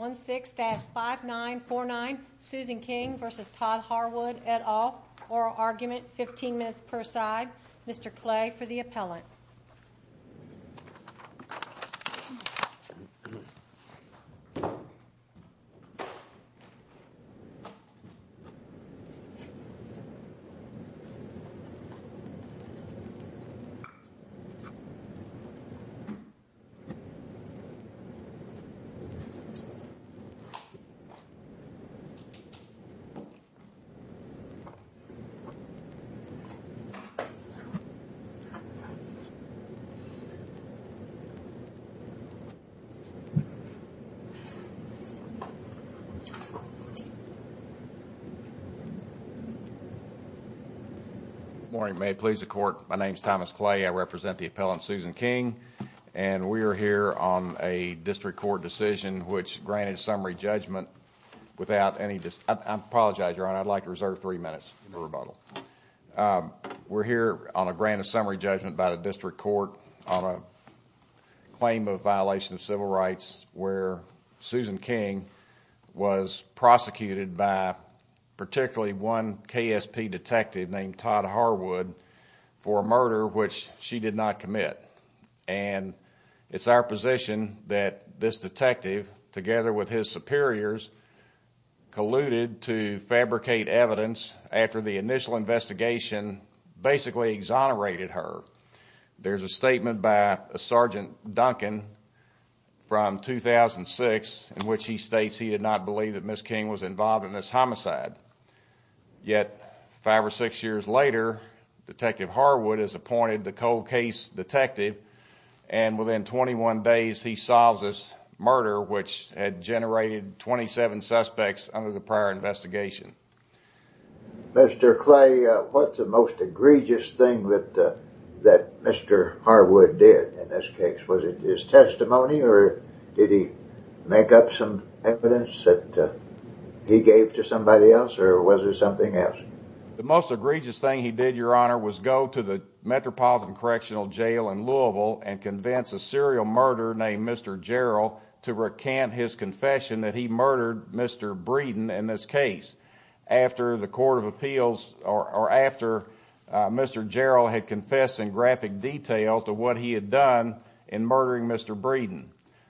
16-5949 Susan King v. Todd Harwood, et al. Oral argument, 15 minutes per side. Mr. Clay for the appellant. Good morning. May it please the court, my name is Thomas Clay. I represent the appellant District Court decision which granted summary judgment without any, I apologize your honor, I'd like to reserve three minutes for rebuttal. We're here on a grant of summary judgment by the district court on a claim of violation of civil rights where Susan King was prosecuted by particularly one KSP detective named Todd Harwood for a murder which she did not commit and it's our position that this detective together with his superiors colluded to fabricate evidence after the initial investigation basically exonerated her. There's a statement by a Sergeant Duncan from 2006 in which he states he did not believe that Miss King was involved in and within 21 days he solves this murder which had generated 27 suspects under the prior investigation. Mr. Clay, what's the most egregious thing that Mr. Harwood did in this case? Was it his testimony or did he make up some evidence that he gave to somebody else or was it something else? The most egregious thing he did your honor was go to the Metropolitan Correctional Jail in Louisville and convince a serial murderer named Mr. Jarrell to recant his confession that he murdered Mr. Breeden in this case after the Court of Appeals or after Mr. Jarrell had confessed in graphic detail to what he had done in murdering Mr. Breeden.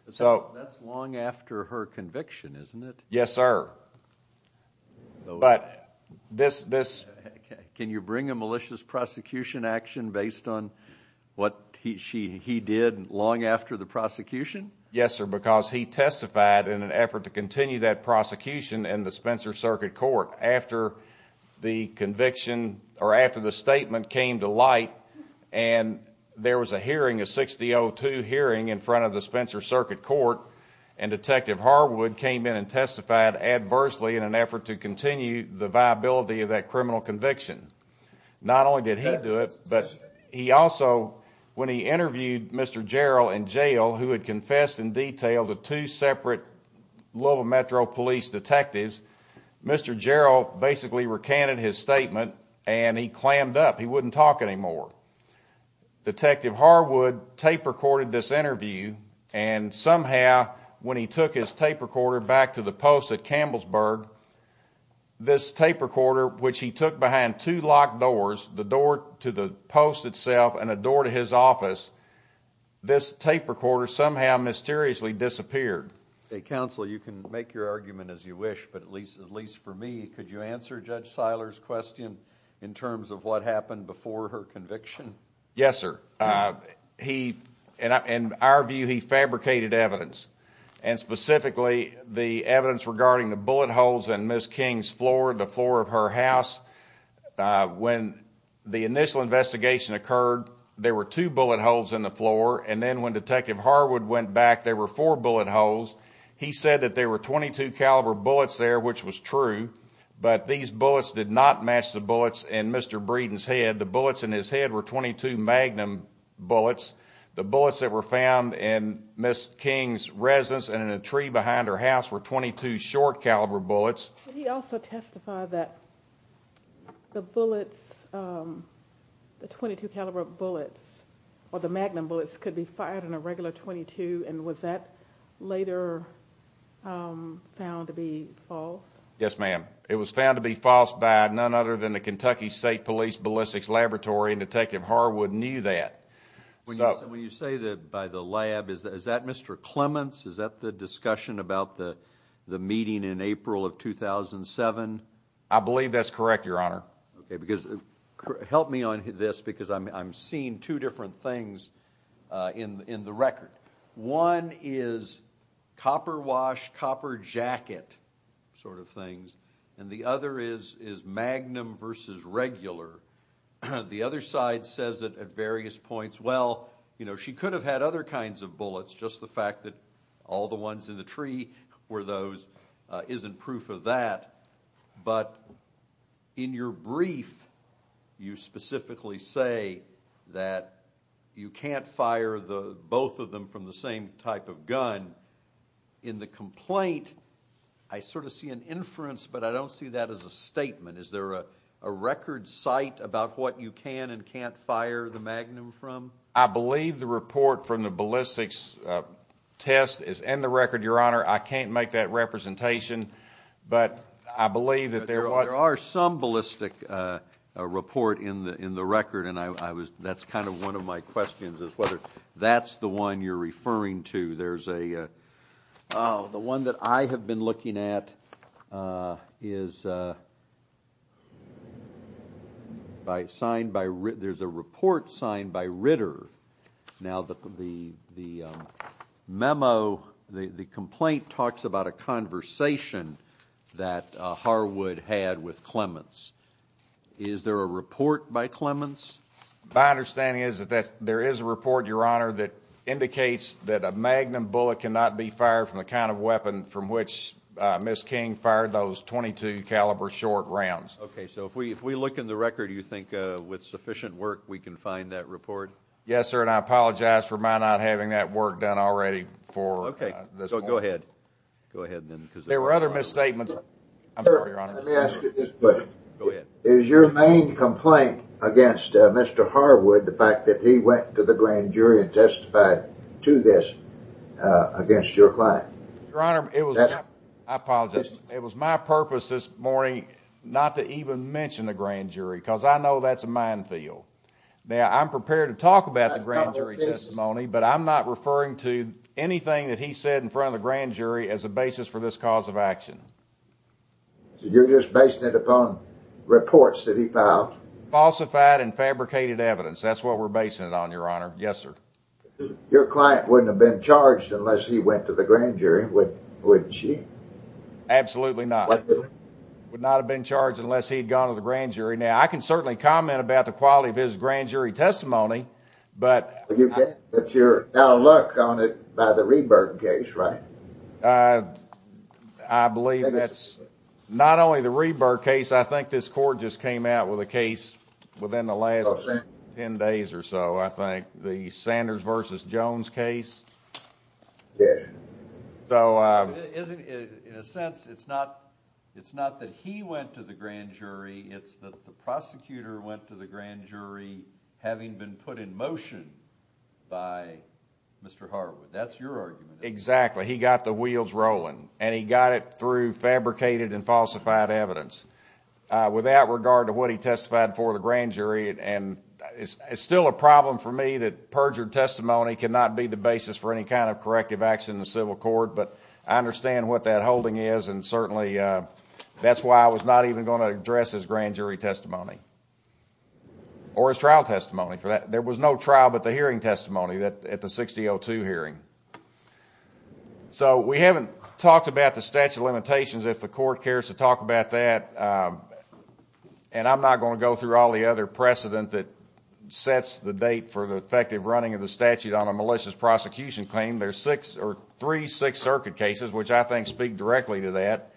That's long after her conviction isn't it? Yes sir, but can you bring a malicious prosecution action based on what he did long after the prosecution? Yes sir, because he testified in an effort to continue that prosecution in the Spencer Circuit Court after the conviction or after the statement came to light and there was a hearing, a 60-02 hearing in front of the Spencer Circuit Court and Detective Harwood came in and testified adversely in an effort to continue the viability of that criminal conviction. Not only did he do it but he also when he interviewed Mr. Jarrell in jail who had confessed in detail to two separate Louisville Metro Police detectives, Mr. Jarrell basically recanted his statement and he clammed up. He wouldn't talk anymore. Detective Harwood tape recorded this interview and somehow when he took his tape recorder back to the post at Campbellsburg, this tape recorder which he took behind two locked doors, the door to the post itself and a door to his office, this tape recorder somehow mysteriously disappeared. Counsel, you can make your argument as you wish but at least at least for me could you answer Judge Seiler's question in terms of what happened before her specifically the evidence regarding the bullet holes in Ms. King's floor, the floor of her house. When the initial investigation occurred there were two bullet holes in the floor and then when Detective Harwood went back there were four bullet holes. He said that there were 22 caliber bullets there which was true but these bullets did not match the bullets in Mr. Breeden's head. The bullets in his head were 22 magnum bullets. The bullets that were found in Ms. King's residence and in a tree behind her house were 22 short caliber bullets. He also testified that the bullets the 22 caliber bullets or the magnum bullets could be fired on a regular 22 and was that later found to be false? Yes ma'am. It was found to be false by none other than the Kentucky State Police Ballistics Laboratory and Detective Harwood knew that. When you say that by the lab is that Mr. Clements? Is that the discussion about the the meeting in April of 2007? I believe that's correct your honor. Okay because help me on this because I'm I'm seeing two different things in in the record. One is copper wash copper jacket sort of things and the other is is magnum versus regular. The other side says that at various points well you know she could have had other kinds of bullets just the fact that all the ones in the tree were those isn't proof of that but in your brief you specifically say that you can't fire the both of them from the same type of gun. In the complaint I sort of see an inference but I don't see that as a statement. Is there a a record cite about what you can and can't fire the magnum from? I believe the report from the ballistics test is in the record your honor. I can't make that representation but I believe that there are some ballistic report in the in the record and I was that's kind of one of my questions is whether that's the one you're referring to. There's a the one that I have been looking at is uh by signed by there's a report signed by Ritter. Now the the the memo the the complaint talks about a conversation that Harwood had with Clements. Is there a report by Clements? My understanding is that there is a report your honor that indicates that a magnum bullet cannot be fired from the kind of weapon from which Miss King fired those 22 caliber short rounds. Okay so if we if we look in the record you think uh with sufficient work we can find that report? Yes sir and I apologize for my not having that work done already for okay so go ahead go ahead then because there were other misstatements. Let me ask you this question. Go ahead. Is your main complaint against Mr. Harwood the fact that he went to the grand jury and testified to this against your client? Your honor it was I apologize it was my purpose this morning not to even mention the grand jury because I know that's a minefield. Now I'm prepared to talk about the grand jury testimony but I'm not referring to anything that he said in front of the grand jury as a basis for this cause of action. So you're just basing it upon reports that he filed? Falsified and fabricated evidence that's what we're basing it on your honor. Yes sir. Your client wouldn't have been charged unless he went to the grand jury would wouldn't she? Absolutely not. Would not have been charged unless he'd gone to the grand jury. Now I can certainly comment about the quality of his grand jury testimony but you get that's your now look on it by the rebirth case right? I believe that's not only the rebirth case I think this court just came out with a case within the last 10 days or so I think the Sanders versus Jones case. Yeah. So isn't it in a sense it's not it's not that he went to the motion by Mr. Harwood that's your argument? Exactly he got the wheels rolling and he got it through fabricated and falsified evidence with that regard to what he testified for the grand jury and it's still a problem for me that perjured testimony cannot be the basis for any kind of corrective action in the civil court but I understand what that holding is and certainly that's why I was not even going to address his grand jury testimony or his trial testimony for that there was no trial but the hearing testimony that at the 6002 hearing so we haven't talked about the statute of limitations if the court cares to talk about that and I'm not going to go through all the other precedent that sets the date for the effective running of the statute on a malicious prosecution claim there's six or three six circuit cases which I think speak directly to that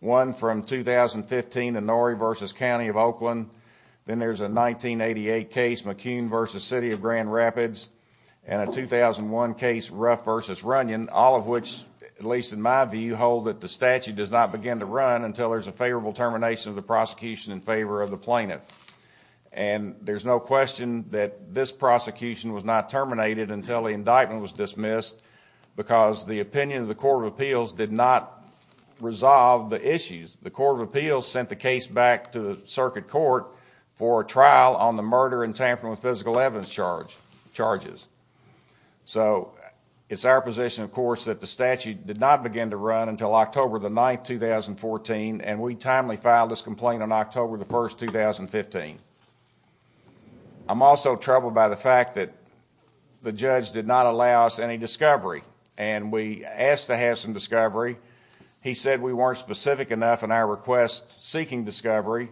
one from 2015 in Norrie versus County of Oakland then there's a 1988 case McCune versus City of Grand Rapids and a 2001 case Ruff versus Runyon all of which at least in my view hold that the statute does not begin to run until there's a favorable termination of the prosecution in favor of the plaintiff and there's no question that this prosecution was not terminated until the indictment was dismissed because the opinion of the court of appeals did not resolve the issues the court of appeals sent the case back to the circuit court for a trial on the murder and tampering with physical evidence charge charges so it's our position of course that the statute did not begin to run until October the 9th 2014 and we timely filed this complaint on October the 1st 2015. I'm also troubled by the the judge did not allow us any discovery and we asked to have some discovery he said we weren't specific enough in our request seeking discovery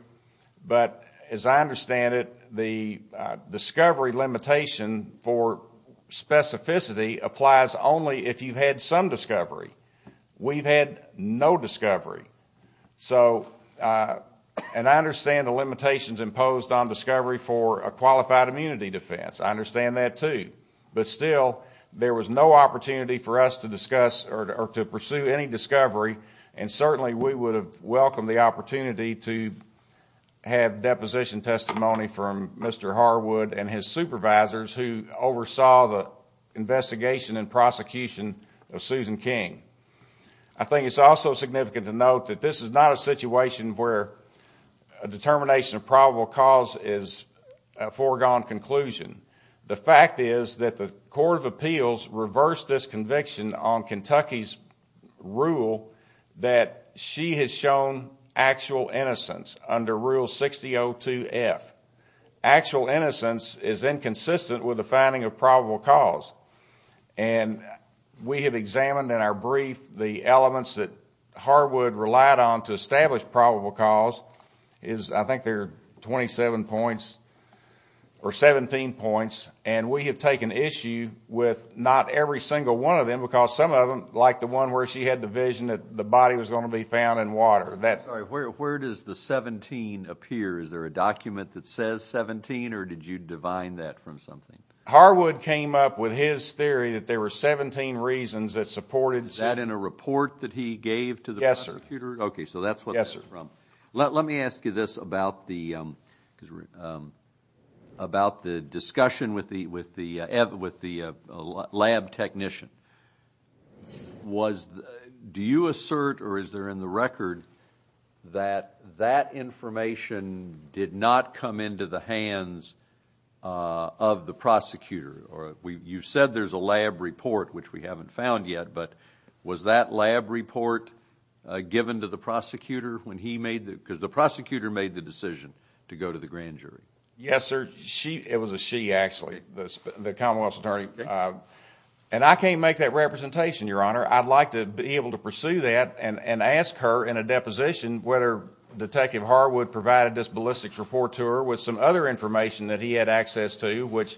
but as I understand it the discovery limitation for specificity applies only if you've had some discovery we've had no discovery so and I understand the limitations imposed on discovery for a qualified immunity defense I understand that too but still there was no opportunity for us to discuss or to pursue any discovery and certainly we would have welcomed the opportunity to have deposition testimony from Mr. Harwood and his supervisors who oversaw the investigation and prosecution of Susan King. I think it's also significant to note that this is not a situation where a determination of probable cause is a foregone conclusion the fact is that the court of appeals reversed this conviction on Kentucky's rule that she has shown actual innocence under rule 6002 f actual innocence is inconsistent with the finding of probable cause and we have examined in our brief the elements that Harwood relied on to establish probable cause is I think they're 27 points or 17 points and we have taken issue with not every single one of them because some of them like the one where she had the vision that the body was going to be found in water that where does the 17 appear is there a document that says 17 or did you divine that from something Harwood came up with his theory that there were 17 reasons that supported that in a this about the about the discussion with the with the with the lab technician was do you assert or is there in the record that that information did not come into the hands of the prosecutor or we you said there's a lab report which we haven't found yet but was that lab report given to the prosecutor when he made the because the prosecutor made the decision to go to the grand jury yes sir she it was a she actually the commonwealth attorney and I can't make that representation your honor I'd like to be able to pursue that and and ask her in a deposition whether detective Harwood provided this ballistics report to her with some other information that he had access to which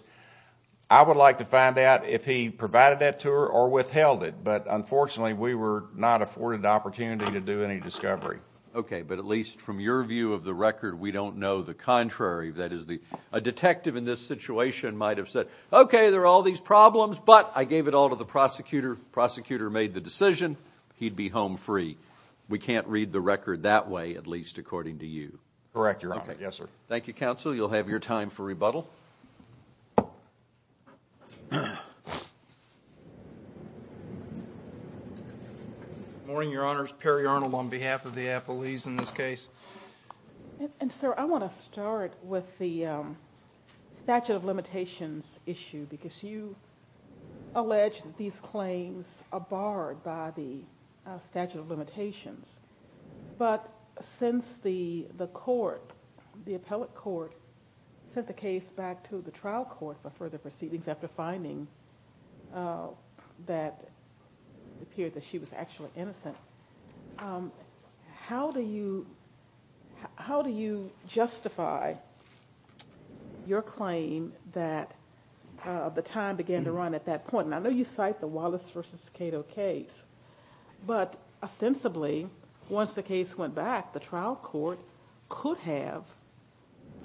I would like to find out if he provided that to her or withheld it but unfortunately we were not afforded the opportunity to do any discovery okay but at least from your view of the record we don't know the contrary that is the a detective in this situation might have said okay there are all these problems but I gave it all to the prosecutor prosecutor made the decision he'd be home free we can't read the record that way at least according to you correct your honor yes sir thank you counsel you'll have your time for questions morning your honors perry arnold on behalf of the affilies in this case and sir I want to start with the statute of limitations issue because you allege that these claims are barred by the statute of limitations but since the the court the appellate court sent the case back to the trial court for further proceedings after finding that it appeared that she was actually innocent how do you how do you justify your claim that the time began to run at that point and I know you cite the Wallace versus Cato case but ostensibly once the case went back the trial court could have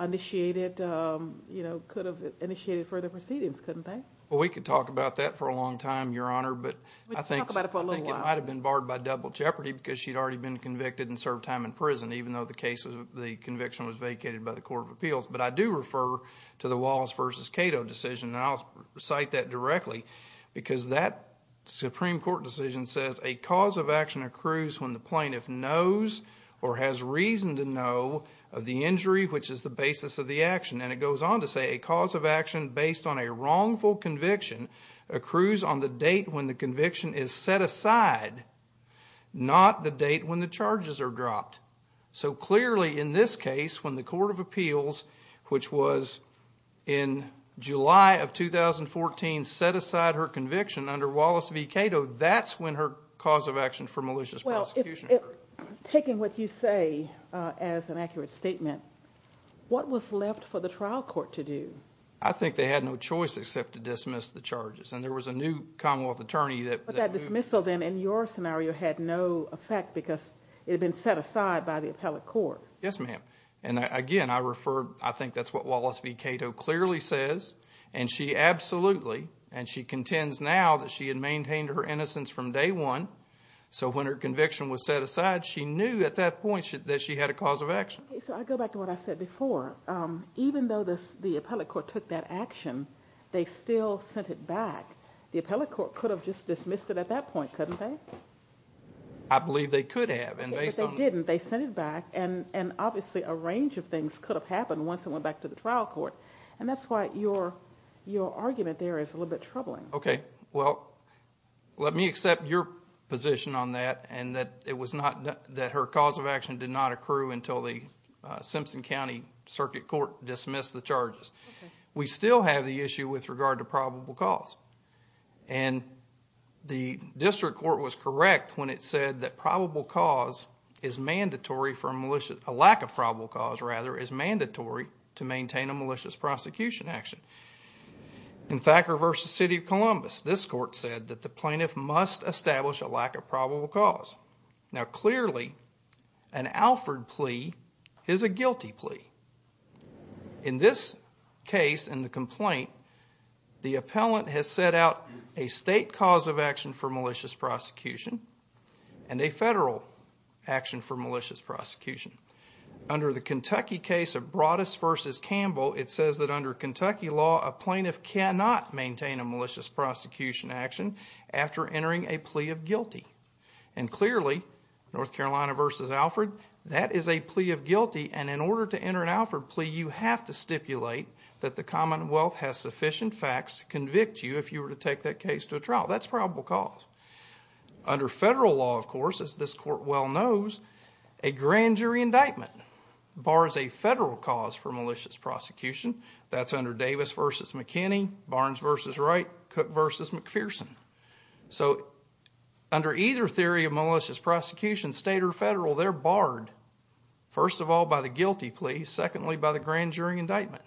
initiated you know could have initiated further proceedings couldn't they well we could talk about that for a your honor but I think it might have been barred by double jeopardy because she'd already been convicted and served time in prison even though the case was the conviction was vacated by the court of appeals but I do refer to the Wallace versus Cato decision and I'll cite that directly because that supreme court decision says a cause of action accrues when the plaintiff knows or has reason to know of the injury which is the basis of the action and it goes on to say a cause of action based on a wrongful conviction accrues on the date when the conviction is set aside not the date when the charges are dropped so clearly in this case when the court of appeals which was in July of 2014 set aside her conviction under Wallace v Cato that's when her cause of action for malicious prosecution well if taking what you say as an accurate statement what was for the trial court to do I think they had no choice except to dismiss the charges and there was a new commonwealth attorney that that dismissal then in your scenario had no effect because it had been set aside by the appellate court yes ma'am and again I refer I think that's what Wallace v Cato clearly says and she absolutely and she contends now that she had maintained her innocence from day one so when her conviction was set aside she knew at that point that she had a cause of even though this the appellate court took that action they still sent it back the appellate court could have just dismissed it at that point couldn't they I believe they could have and they said they didn't they sent it back and and obviously a range of things could have happened once it went back to the trial court and that's why your your argument there is a little bit troubling okay well let me accept your position on that and that it was not that her cause of action did not accrue until the Simpson County Circuit Court dismissed the charges we still have the issue with regard to probable cause and the district court was correct when it said that probable cause is mandatory for a malicious a lack of probable cause rather is mandatory to maintain a malicious prosecution action in Thacker versus City of Columbus this court said that the plaintiff must establish a lack of probable cause now clearly an Alfred plea is a guilty plea in this case in the complaint the appellant has set out a state cause of action for malicious prosecution and a federal action for malicious prosecution under the Kentucky case of Broadus versus Campbell it says that under Kentucky law a plaintiff cannot maintain a after entering a plea of guilty and clearly North Carolina versus Alfred that is a plea of guilty and in order to enter an Alfred plea you have to stipulate that the commonwealth has sufficient facts to convict you if you were to take that case to a trial that's probable cause under federal law of course as this court well knows a grand jury indictment bars a federal cause for malicious prosecution that's under Davis versus McKinney Barnes versus Wright Cook versus McPherson so under either theory of malicious prosecution state or federal they're barred first of all by the guilty plea secondly by the grand jury indictment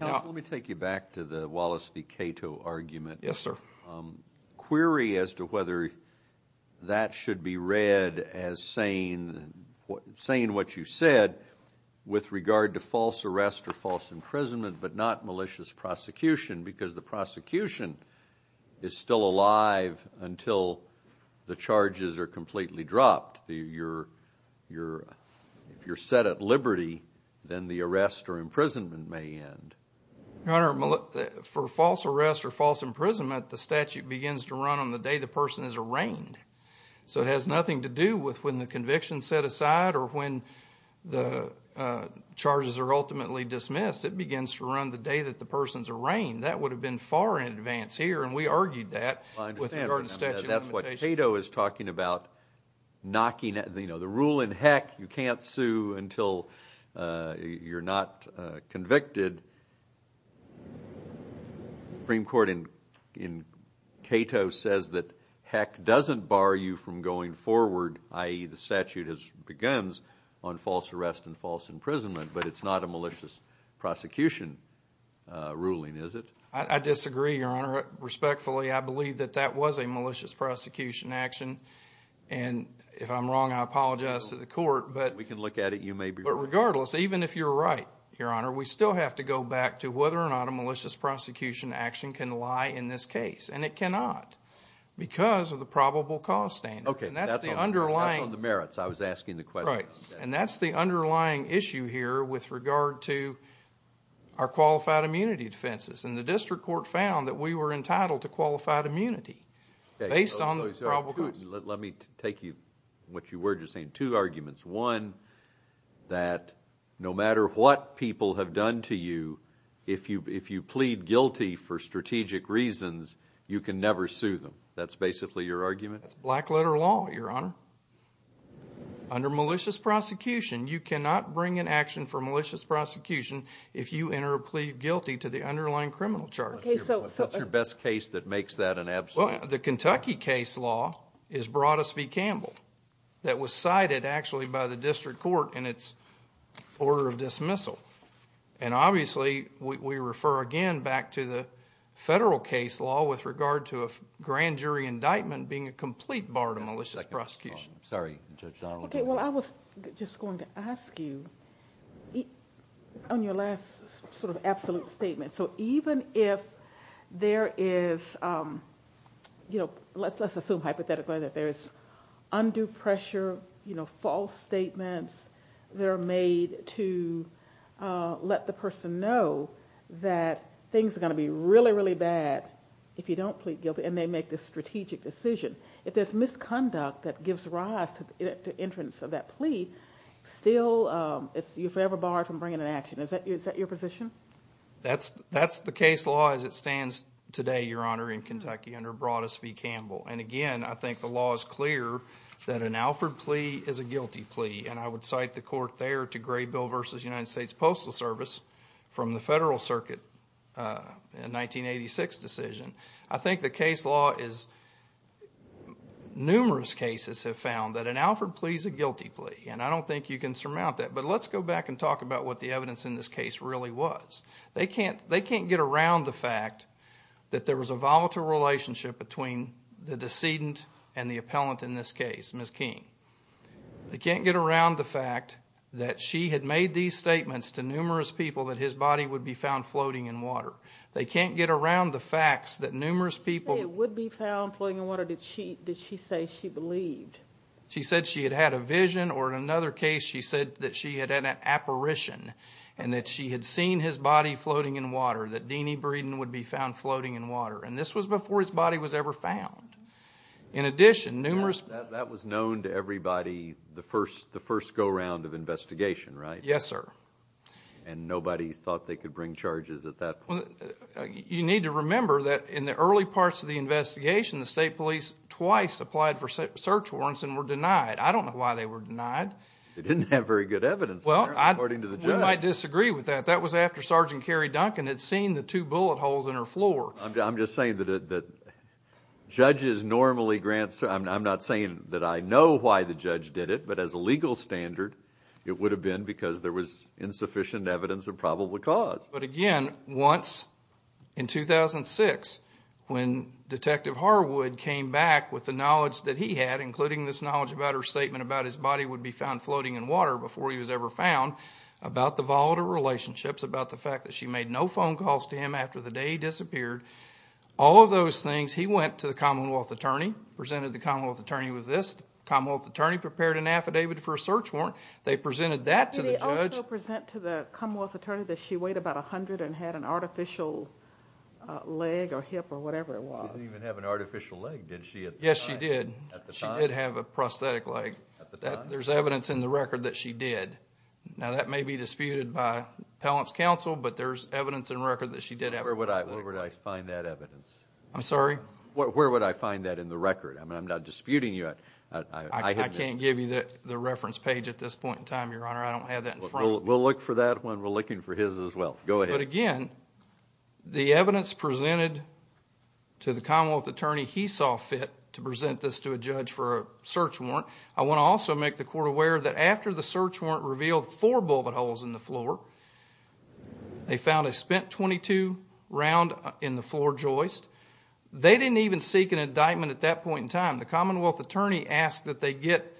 now let me take you back to the Wallace v Cato argument yes sir query as to whether that should be read as saying what saying what you said with regard to false arrest or false imprisonment but not malicious prosecution because the prosecution is still alive until the charges are completely dropped the you're you're if you're set at liberty then the arrest or imprisonment may end your honor for false arrest or false imprisonment the statute begins to run on the day the person is arraigned so it has nothing to do with when the conviction set aside or when the charges are ultimately dismissed it begins to run the day that the person's arraigned that would have been far in advance here and we argued that with regard to statute limitation that's what Cato is talking about knocking at you know the rule in heck you can't sue until uh you're not convicted Supreme Court in in Cato says that heck doesn't bar you from going forward i.e. the statute has on false arrest and false imprisonment but it's not a malicious prosecution ruling is it i disagree your honor respectfully i believe that that was a malicious prosecution action and if i'm wrong i apologize to the court but we can look at it you may be but regardless even if you're right your honor we still have to go back to whether or not a malicious prosecution action can lie in this case and it cannot because of the probable cause standard okay and that's the underlying the merits i was asking the question right and that's the underlying issue here with regard to our qualified immunity defenses and the district court found that we were entitled to qualified immunity based on the probable cause let me take you what you were just saying two arguments one that no matter what people have done to you if you if you plead guilty for strategic reasons you can never sue them that's basically your argument that's black letter law your honor under malicious prosecution you cannot bring an action for malicious prosecution if you enter a plea guilty to the underlying criminal charge okay so what's your best case that makes that an absolute the kentucky case law is broadus v campbell that was cited actually by the district court in its order of dismissal and obviously we refer again back to the federal case law with regard to a grand jury indictment being a complete bar to malicious prosecution sorry judge donald okay well i was just going to ask you on your last sort of absolute statement so even if there is um you know let's let's assume hypothetically that there is undue pressure you know false statements that are made to uh let the person know that things are going to be really bad if you don't plead guilty and they make this strategic decision if there's misconduct that gives rise to the entrance of that plea still um it's you're forever barred from bringing an action is that is that your position that's that's the case law as it stands today your honor in kentucky under broadus v campbell and again i think the law is clear that an alford plea is a guilty plea and i would cite the court there to gray bill versus united states postal service from the federal circuit uh in 1986 decision i think the case law is numerous cases have found that an alford plea is a guilty plea and i don't think you can surmount that but let's go back and talk about what the evidence in this case really was they can't they can't get around the fact that there was a volatile relationship between the decedent and the appellant in this case miss king they can't get around the that she had made these statements to numerous people that his body would be found floating in water they can't get around the facts that numerous people would be found floating in water did she did she say she believed she said she had had a vision or in another case she said that she had an apparition and that she had seen his body floating in water that deany breeden would be found floating in water and this was before his body was ever found in addition numerous that was known to of investigation right yes sir and nobody thought they could bring charges at that point you need to remember that in the early parts of the investigation the state police twice applied for search warrants and were denied i don't know why they were denied they didn't have very good evidence well i'm according to the judge i disagree with that that was after sergeant carrie duncan had seen the two bullet holes in her floor i'm just saying that that judges normally grants i'm not saying that i know why the judge did it but as a legal standard it would have been because there was insufficient evidence of probable cause but again once in 2006 when detective harwood came back with the knowledge that he had including this knowledge about her statement about his body would be found floating in water before he was ever found about the volatile relationships about the fact that she made no phone calls to him after the day he disappeared all of those things he went to the commonwealth attorney presented the commonwealth attorney with this commonwealth attorney prepared an affidavit for a search warrant they presented that to the judge present to the commonwealth attorney that she weighed about a hundred and had an artificial leg or hip or whatever it was didn't even have an artificial leg did she yes she did at the time she did have a prosthetic leg at the time there's evidence in the record that she did now that may be disputed by appellant's counsel but there's evidence and record that she did where would i where would i find that evidence i'm sorry where would i find that in the record i mean i'm not disputing you i can't give you that the reference page at this point in time your honor i don't have that we'll look for that one we're looking for his as well go ahead again the evidence presented to the commonwealth attorney he saw fit to present this to a judge for a search warrant i want to also make the court aware that after the search warrant revealed four in the floor they found a spent 22 round in the floor joist they didn't even seek an indictment at that point in time the commonwealth attorney asked that they get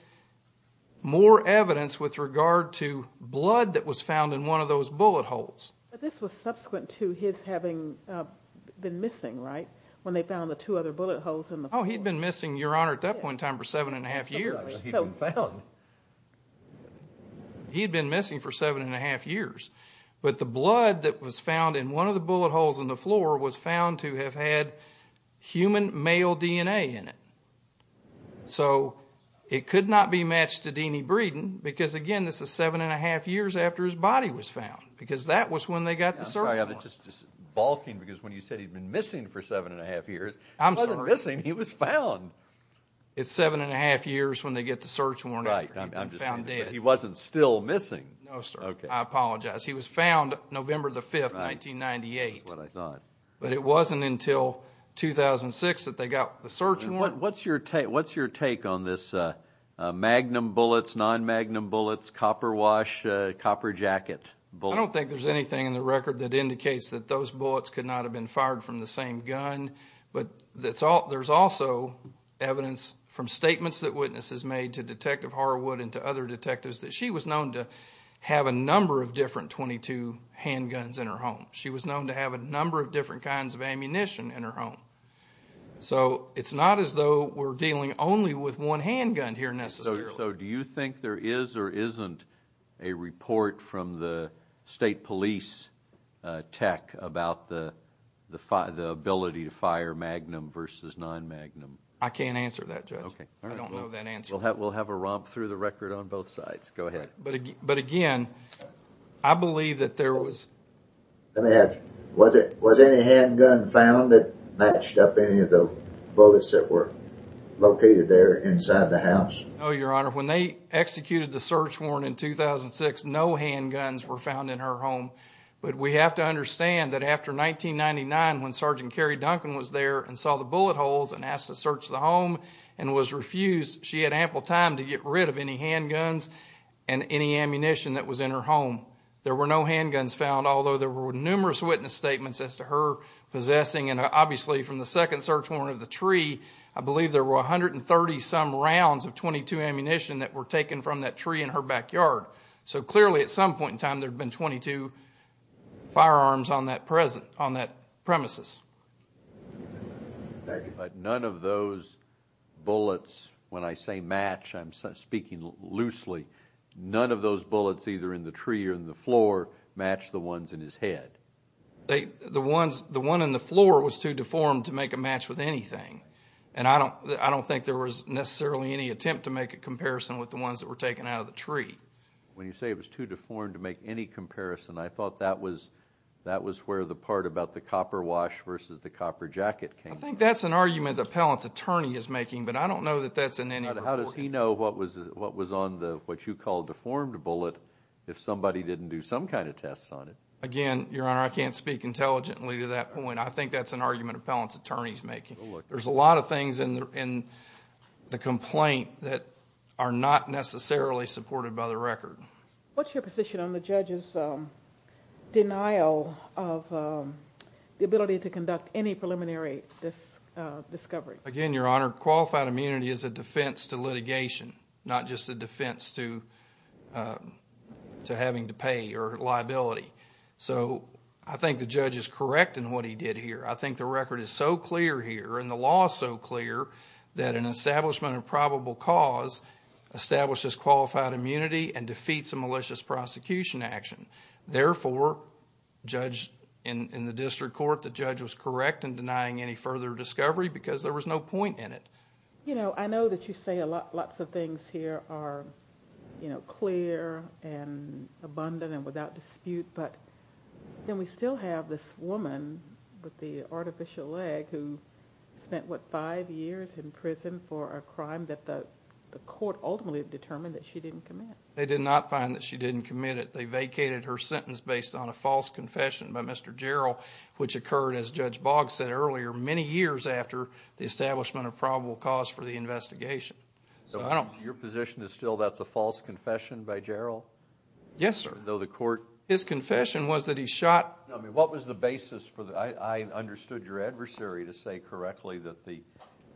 more evidence with regard to blood that was found in one of those bullet holes but this was subsequent to his having been missing right when they found the two other bullet holes in the oh he'd been missing your he'd been missing for seven and a half years but the blood that was found in one of the bullet holes in the floor was found to have had human male dna in it so it could not be matched to denie breeden because again this is seven and a half years after his body was found because that was when they got the search i'm just just balking because when you said he'd been missing for seven and a half years i'm missing he was found it's seven and a half years when they get the search right he wasn't still missing no sir okay i apologize he was found november the 5th 1998 what i thought but it wasn't until 2006 that they got the search warrant what's your take what's your take on this uh magnum bullets non-magnum bullets copper wash uh copper jacket i don't think there's anything in the record that indicates that those bullets could not have been fired from the same gun but that's all there's also evidence from statements that made to detective harwood and to other detectives that she was known to have a number of different 22 handguns in her home she was known to have a number of different kinds of ammunition in her home so it's not as though we're dealing only with one handgun here necessarily so do you think there is or isn't a report from the state police uh tech about the the ability to fire magnum versus non-magnum i can't answer that judge okay i don't know that answer we'll have we'll have a romp through the record on both sides go ahead but but again i believe that there was let me have was it was any handgun found that matched up any of the bullets that were located there inside the house oh your honor when they executed the search warrant in 2006 no handguns were found in her home but we have to understand that after 1999 when sergeant carrie duncan was there and saw the bullet holes and asked to search the home and was refused she had ample time to get rid of any handguns and any ammunition that was in her home there were no handguns found although there were numerous witness statements as to her possessing and obviously from the second search warrant of the tree i believe there were 130 some rounds of 22 ammunition that were taken from that tree in her backyard so clearly at some point in time there'd been 22 firearms on that present on that premises thank you but none of those bullets when i say match i'm speaking loosely none of those bullets either in the tree or in the floor match the ones in his head they the ones the one in the floor was too deformed to make a match with anything and i don't i don't think there was necessarily any attempt to make a comparison with the ones that were taken out of the tree when you say it was too deformed to make any comparison i thought that was that was where the part about the copper wash versus the copper jacket came i think that's an argument the appellant's attorney is making but i don't know that that's in any how does he know what was what was on the what you call deformed bullet if somebody didn't do some kind of tests on it again your honor i can't speak intelligently to that point i think that's an argument appellant's making there's a lot of things in the in the complaint that are not necessarily supported by the record what's your position on the judge's um denial of um the ability to conduct any preliminary discovery again your honor qualified immunity is a defense to litigation not just a defense to uh to having to pay or liability so i think the judge is correct in what he did here i think the record is so clear here and the law is so clear that an establishment of probable cause establishes qualified immunity and defeats a malicious prosecution action therefore judge in in the district court the judge was correct in denying any further discovery because there was no point in it you know i know that you say a lot lots of things here are you know clear and abundant and without dispute but then we still have this woman with the artificial leg who spent what five years in prison for a crime that the the court ultimately determined that she didn't commit they did not find that she didn't commit it they vacated her sentence based on a false confession by mr gerald which occurred as judge boggs said earlier many years after the establishment of probable cause for the investigation so i don't your position is still that's a false confession by gerald yes sir though the court his confession was that he shot i mean what was the basis for the i i understood your adversary to say correctly that the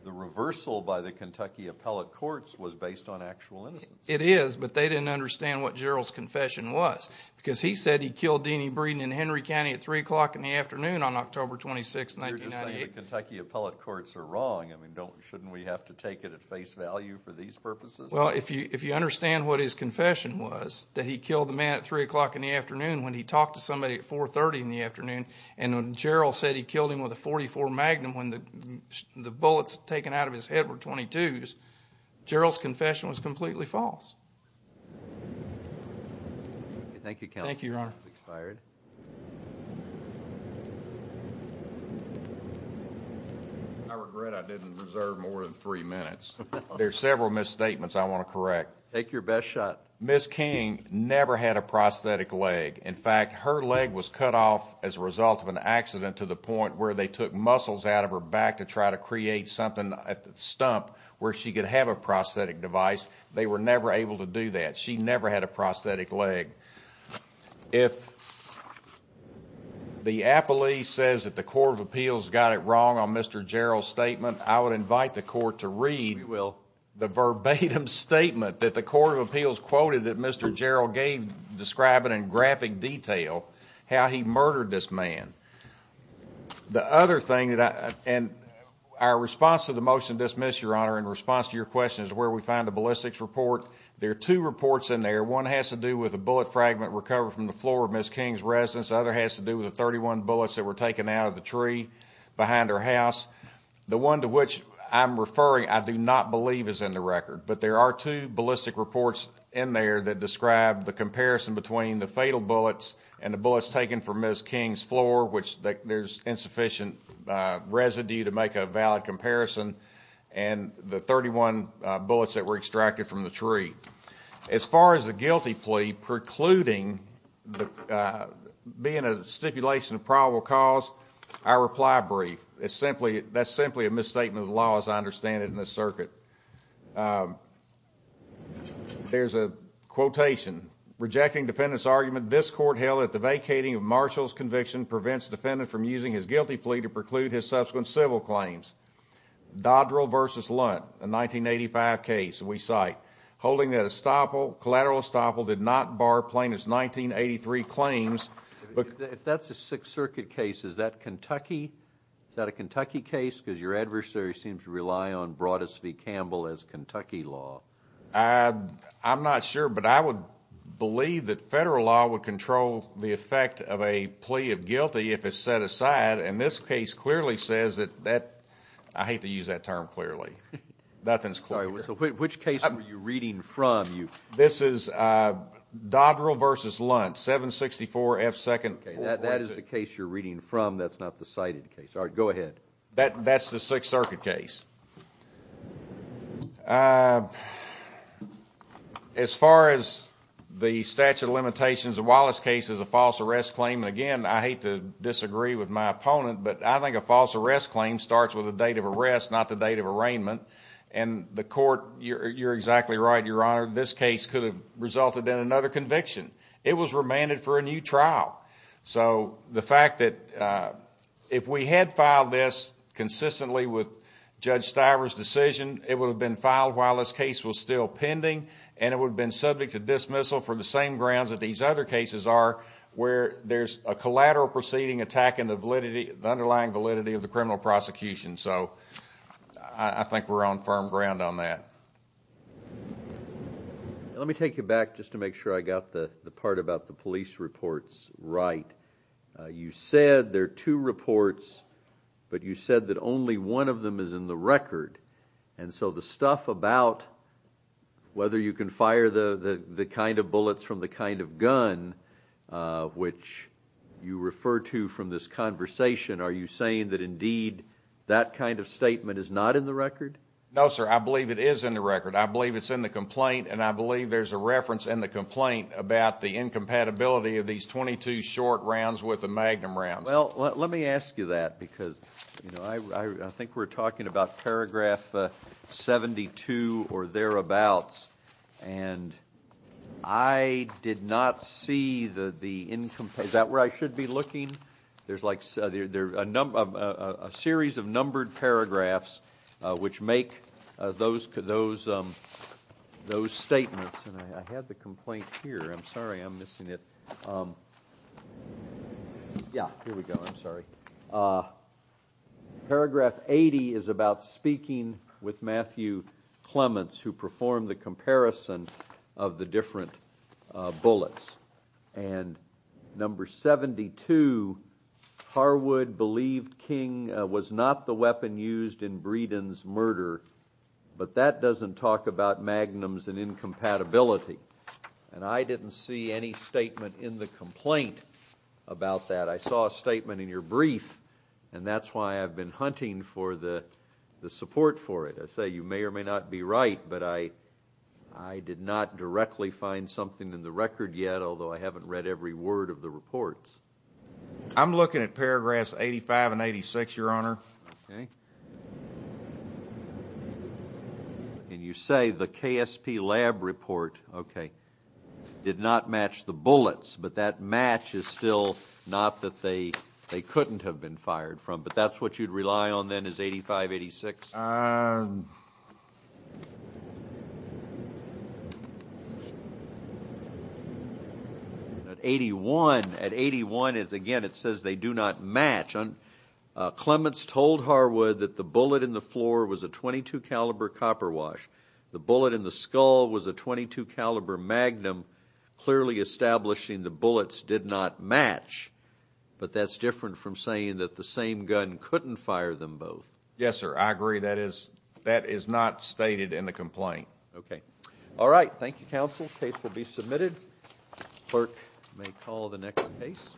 the reversal by the kentucky appellate courts was based on actual innocence it is but they didn't understand what gerald's confession was because he said he killed deanie breeden in henry county at three o'clock in the afternoon on october 26th 1998 kentucky appellate courts are wrong i mean don't shouldn't we have to take it at face value for these purposes well if you if you understand what his confession was that he killed the man at three o'clock in the afternoon when he talked to somebody at 4 30 in the afternoon and when gerald said he killed him with a 44 magnum when the the bullets taken out of his head were 22s gerald's confession was completely false thank you thank you your honor expired i regret i didn't reserve more than three minutes there's several misstatements i want to correct take your best shot miss king never had a prosthetic leg in fact her leg was cut off as a result of an accident to the point where they took muscles out of her back to try to create something at the stump where she could have a prosthetic device they were never able to do that she never had a prosthetic leg if the appellee says that the court of appeals got it wrong on mr gerald's statement i would invite the court to read it will the verbatim statement that the court of appeals quoted that mr gerald gave describing in graphic detail how he murdered this man the other thing that i and our response to the motion dismiss your honor in response to your question is where we find the ballistics report there are two reports in there one has to do with a bullet fragment recovered from the floor of miss king's residence the other has to do with the 31 bullets that were taken out of the tree behind her house the one to which i'm referring i do not believe is in the record but there are two ballistic reports in there that describe the comparison between the fatal bullets and the bullets taken from miss king's floor which there's insufficient residue to make a valid comparison and the 31 bullets that were extracted from the tree as far as the guilty plea precluding the being a stipulation of probable cause i reply brief it's simply that's simply a misstatement of the law as i understand it in this circuit um there's a quotation rejecting defendant's argument this court held that the guilty plea to preclude his subsequent civil claims dodrill versus lunt a 1985 case we cite holding that estoppel collateral estoppel did not bar plaintiff's 1983 claims but if that's a sixth circuit case is that kentucky is that a kentucky case because your adversary seems to rely on broadest v campbell as kentucky law i i'm not sure but i would believe that federal law would control the effect of a plea of guilty if it's set aside and this case clearly says that that i hate to use that term clearly nothing's clear which case were you reading from you this is uh dodrill versus lunt 764 f second that that is the case you're reading from that's not the cited case all right go ahead that that's the sixth circuit case uh as far as the statute of violations the wallace case is a false arrest claim and again i hate to disagree with my opponent but i think a false arrest claim starts with the date of arrest not the date of arraignment and the court you're you're exactly right your honor this case could have resulted in another conviction it was remanded for a new trial so the fact that uh if we had filed this consistently with judge stiver's decision it would have been filed while this case was still pending and it would have been subject to dismissal for the same grounds that these other cases are where there's a collateral proceeding attack in the validity the underlying validity of the criminal prosecution so i think we're on firm ground on that let me take you back just to make sure i got the the part about the police reports right you said there are two reports but you said that only one of them is in the record and so the stuff about whether you can fire the the kind of bullets from the kind of gun uh which you refer to from this conversation are you saying that indeed that kind of statement is not in the record no sir i believe it is in the record i believe it's in the complaint and i believe there's a reference in the complaint about the incompatibility of these 22 short rounds with the magnum rounds well let me ask you that because you know i i think we're talking about paragraph 72 or thereabouts and i did not see the the income is that where i should be looking there's like there there a number of a series of numbered paragraphs uh which make those those um those statements and i had the complaint here i'm sorry i'm missing it um yeah here we go i'm sorry uh paragraph 80 is about speaking with matthew clements who performed the comparison of the different uh bullets and number 72 harwood believed king was not the weapon used in breedon's murder but that doesn't talk about magnums and incompatibility and i didn't see any statement in the complaint about that i saw a statement in your brief and that's why i've been hunting for the the support for it i say you may or may not be right but i i did not directly find something in the record yet although i haven't read every word of the reports i'm looking at paragraphs 85 and 86 your honor okay and you say the ksp lab report okay did not match the bullets but that match is still not that they they couldn't have been fired from but that's what you'd rely on then is 85 86 um at 81 at 81 is again it says they do not match on clements told harwood that the bullet in the floor was a 22 caliber copper wash the bullet in the skull was a 22 caliber magnum clearly establishing the bullets did not match but that's different from saying that the same gun couldn't fire them both yes sir i agree that is that is not stated in the complaint okay all right thank you counsel case will be submitted clerk may call the next case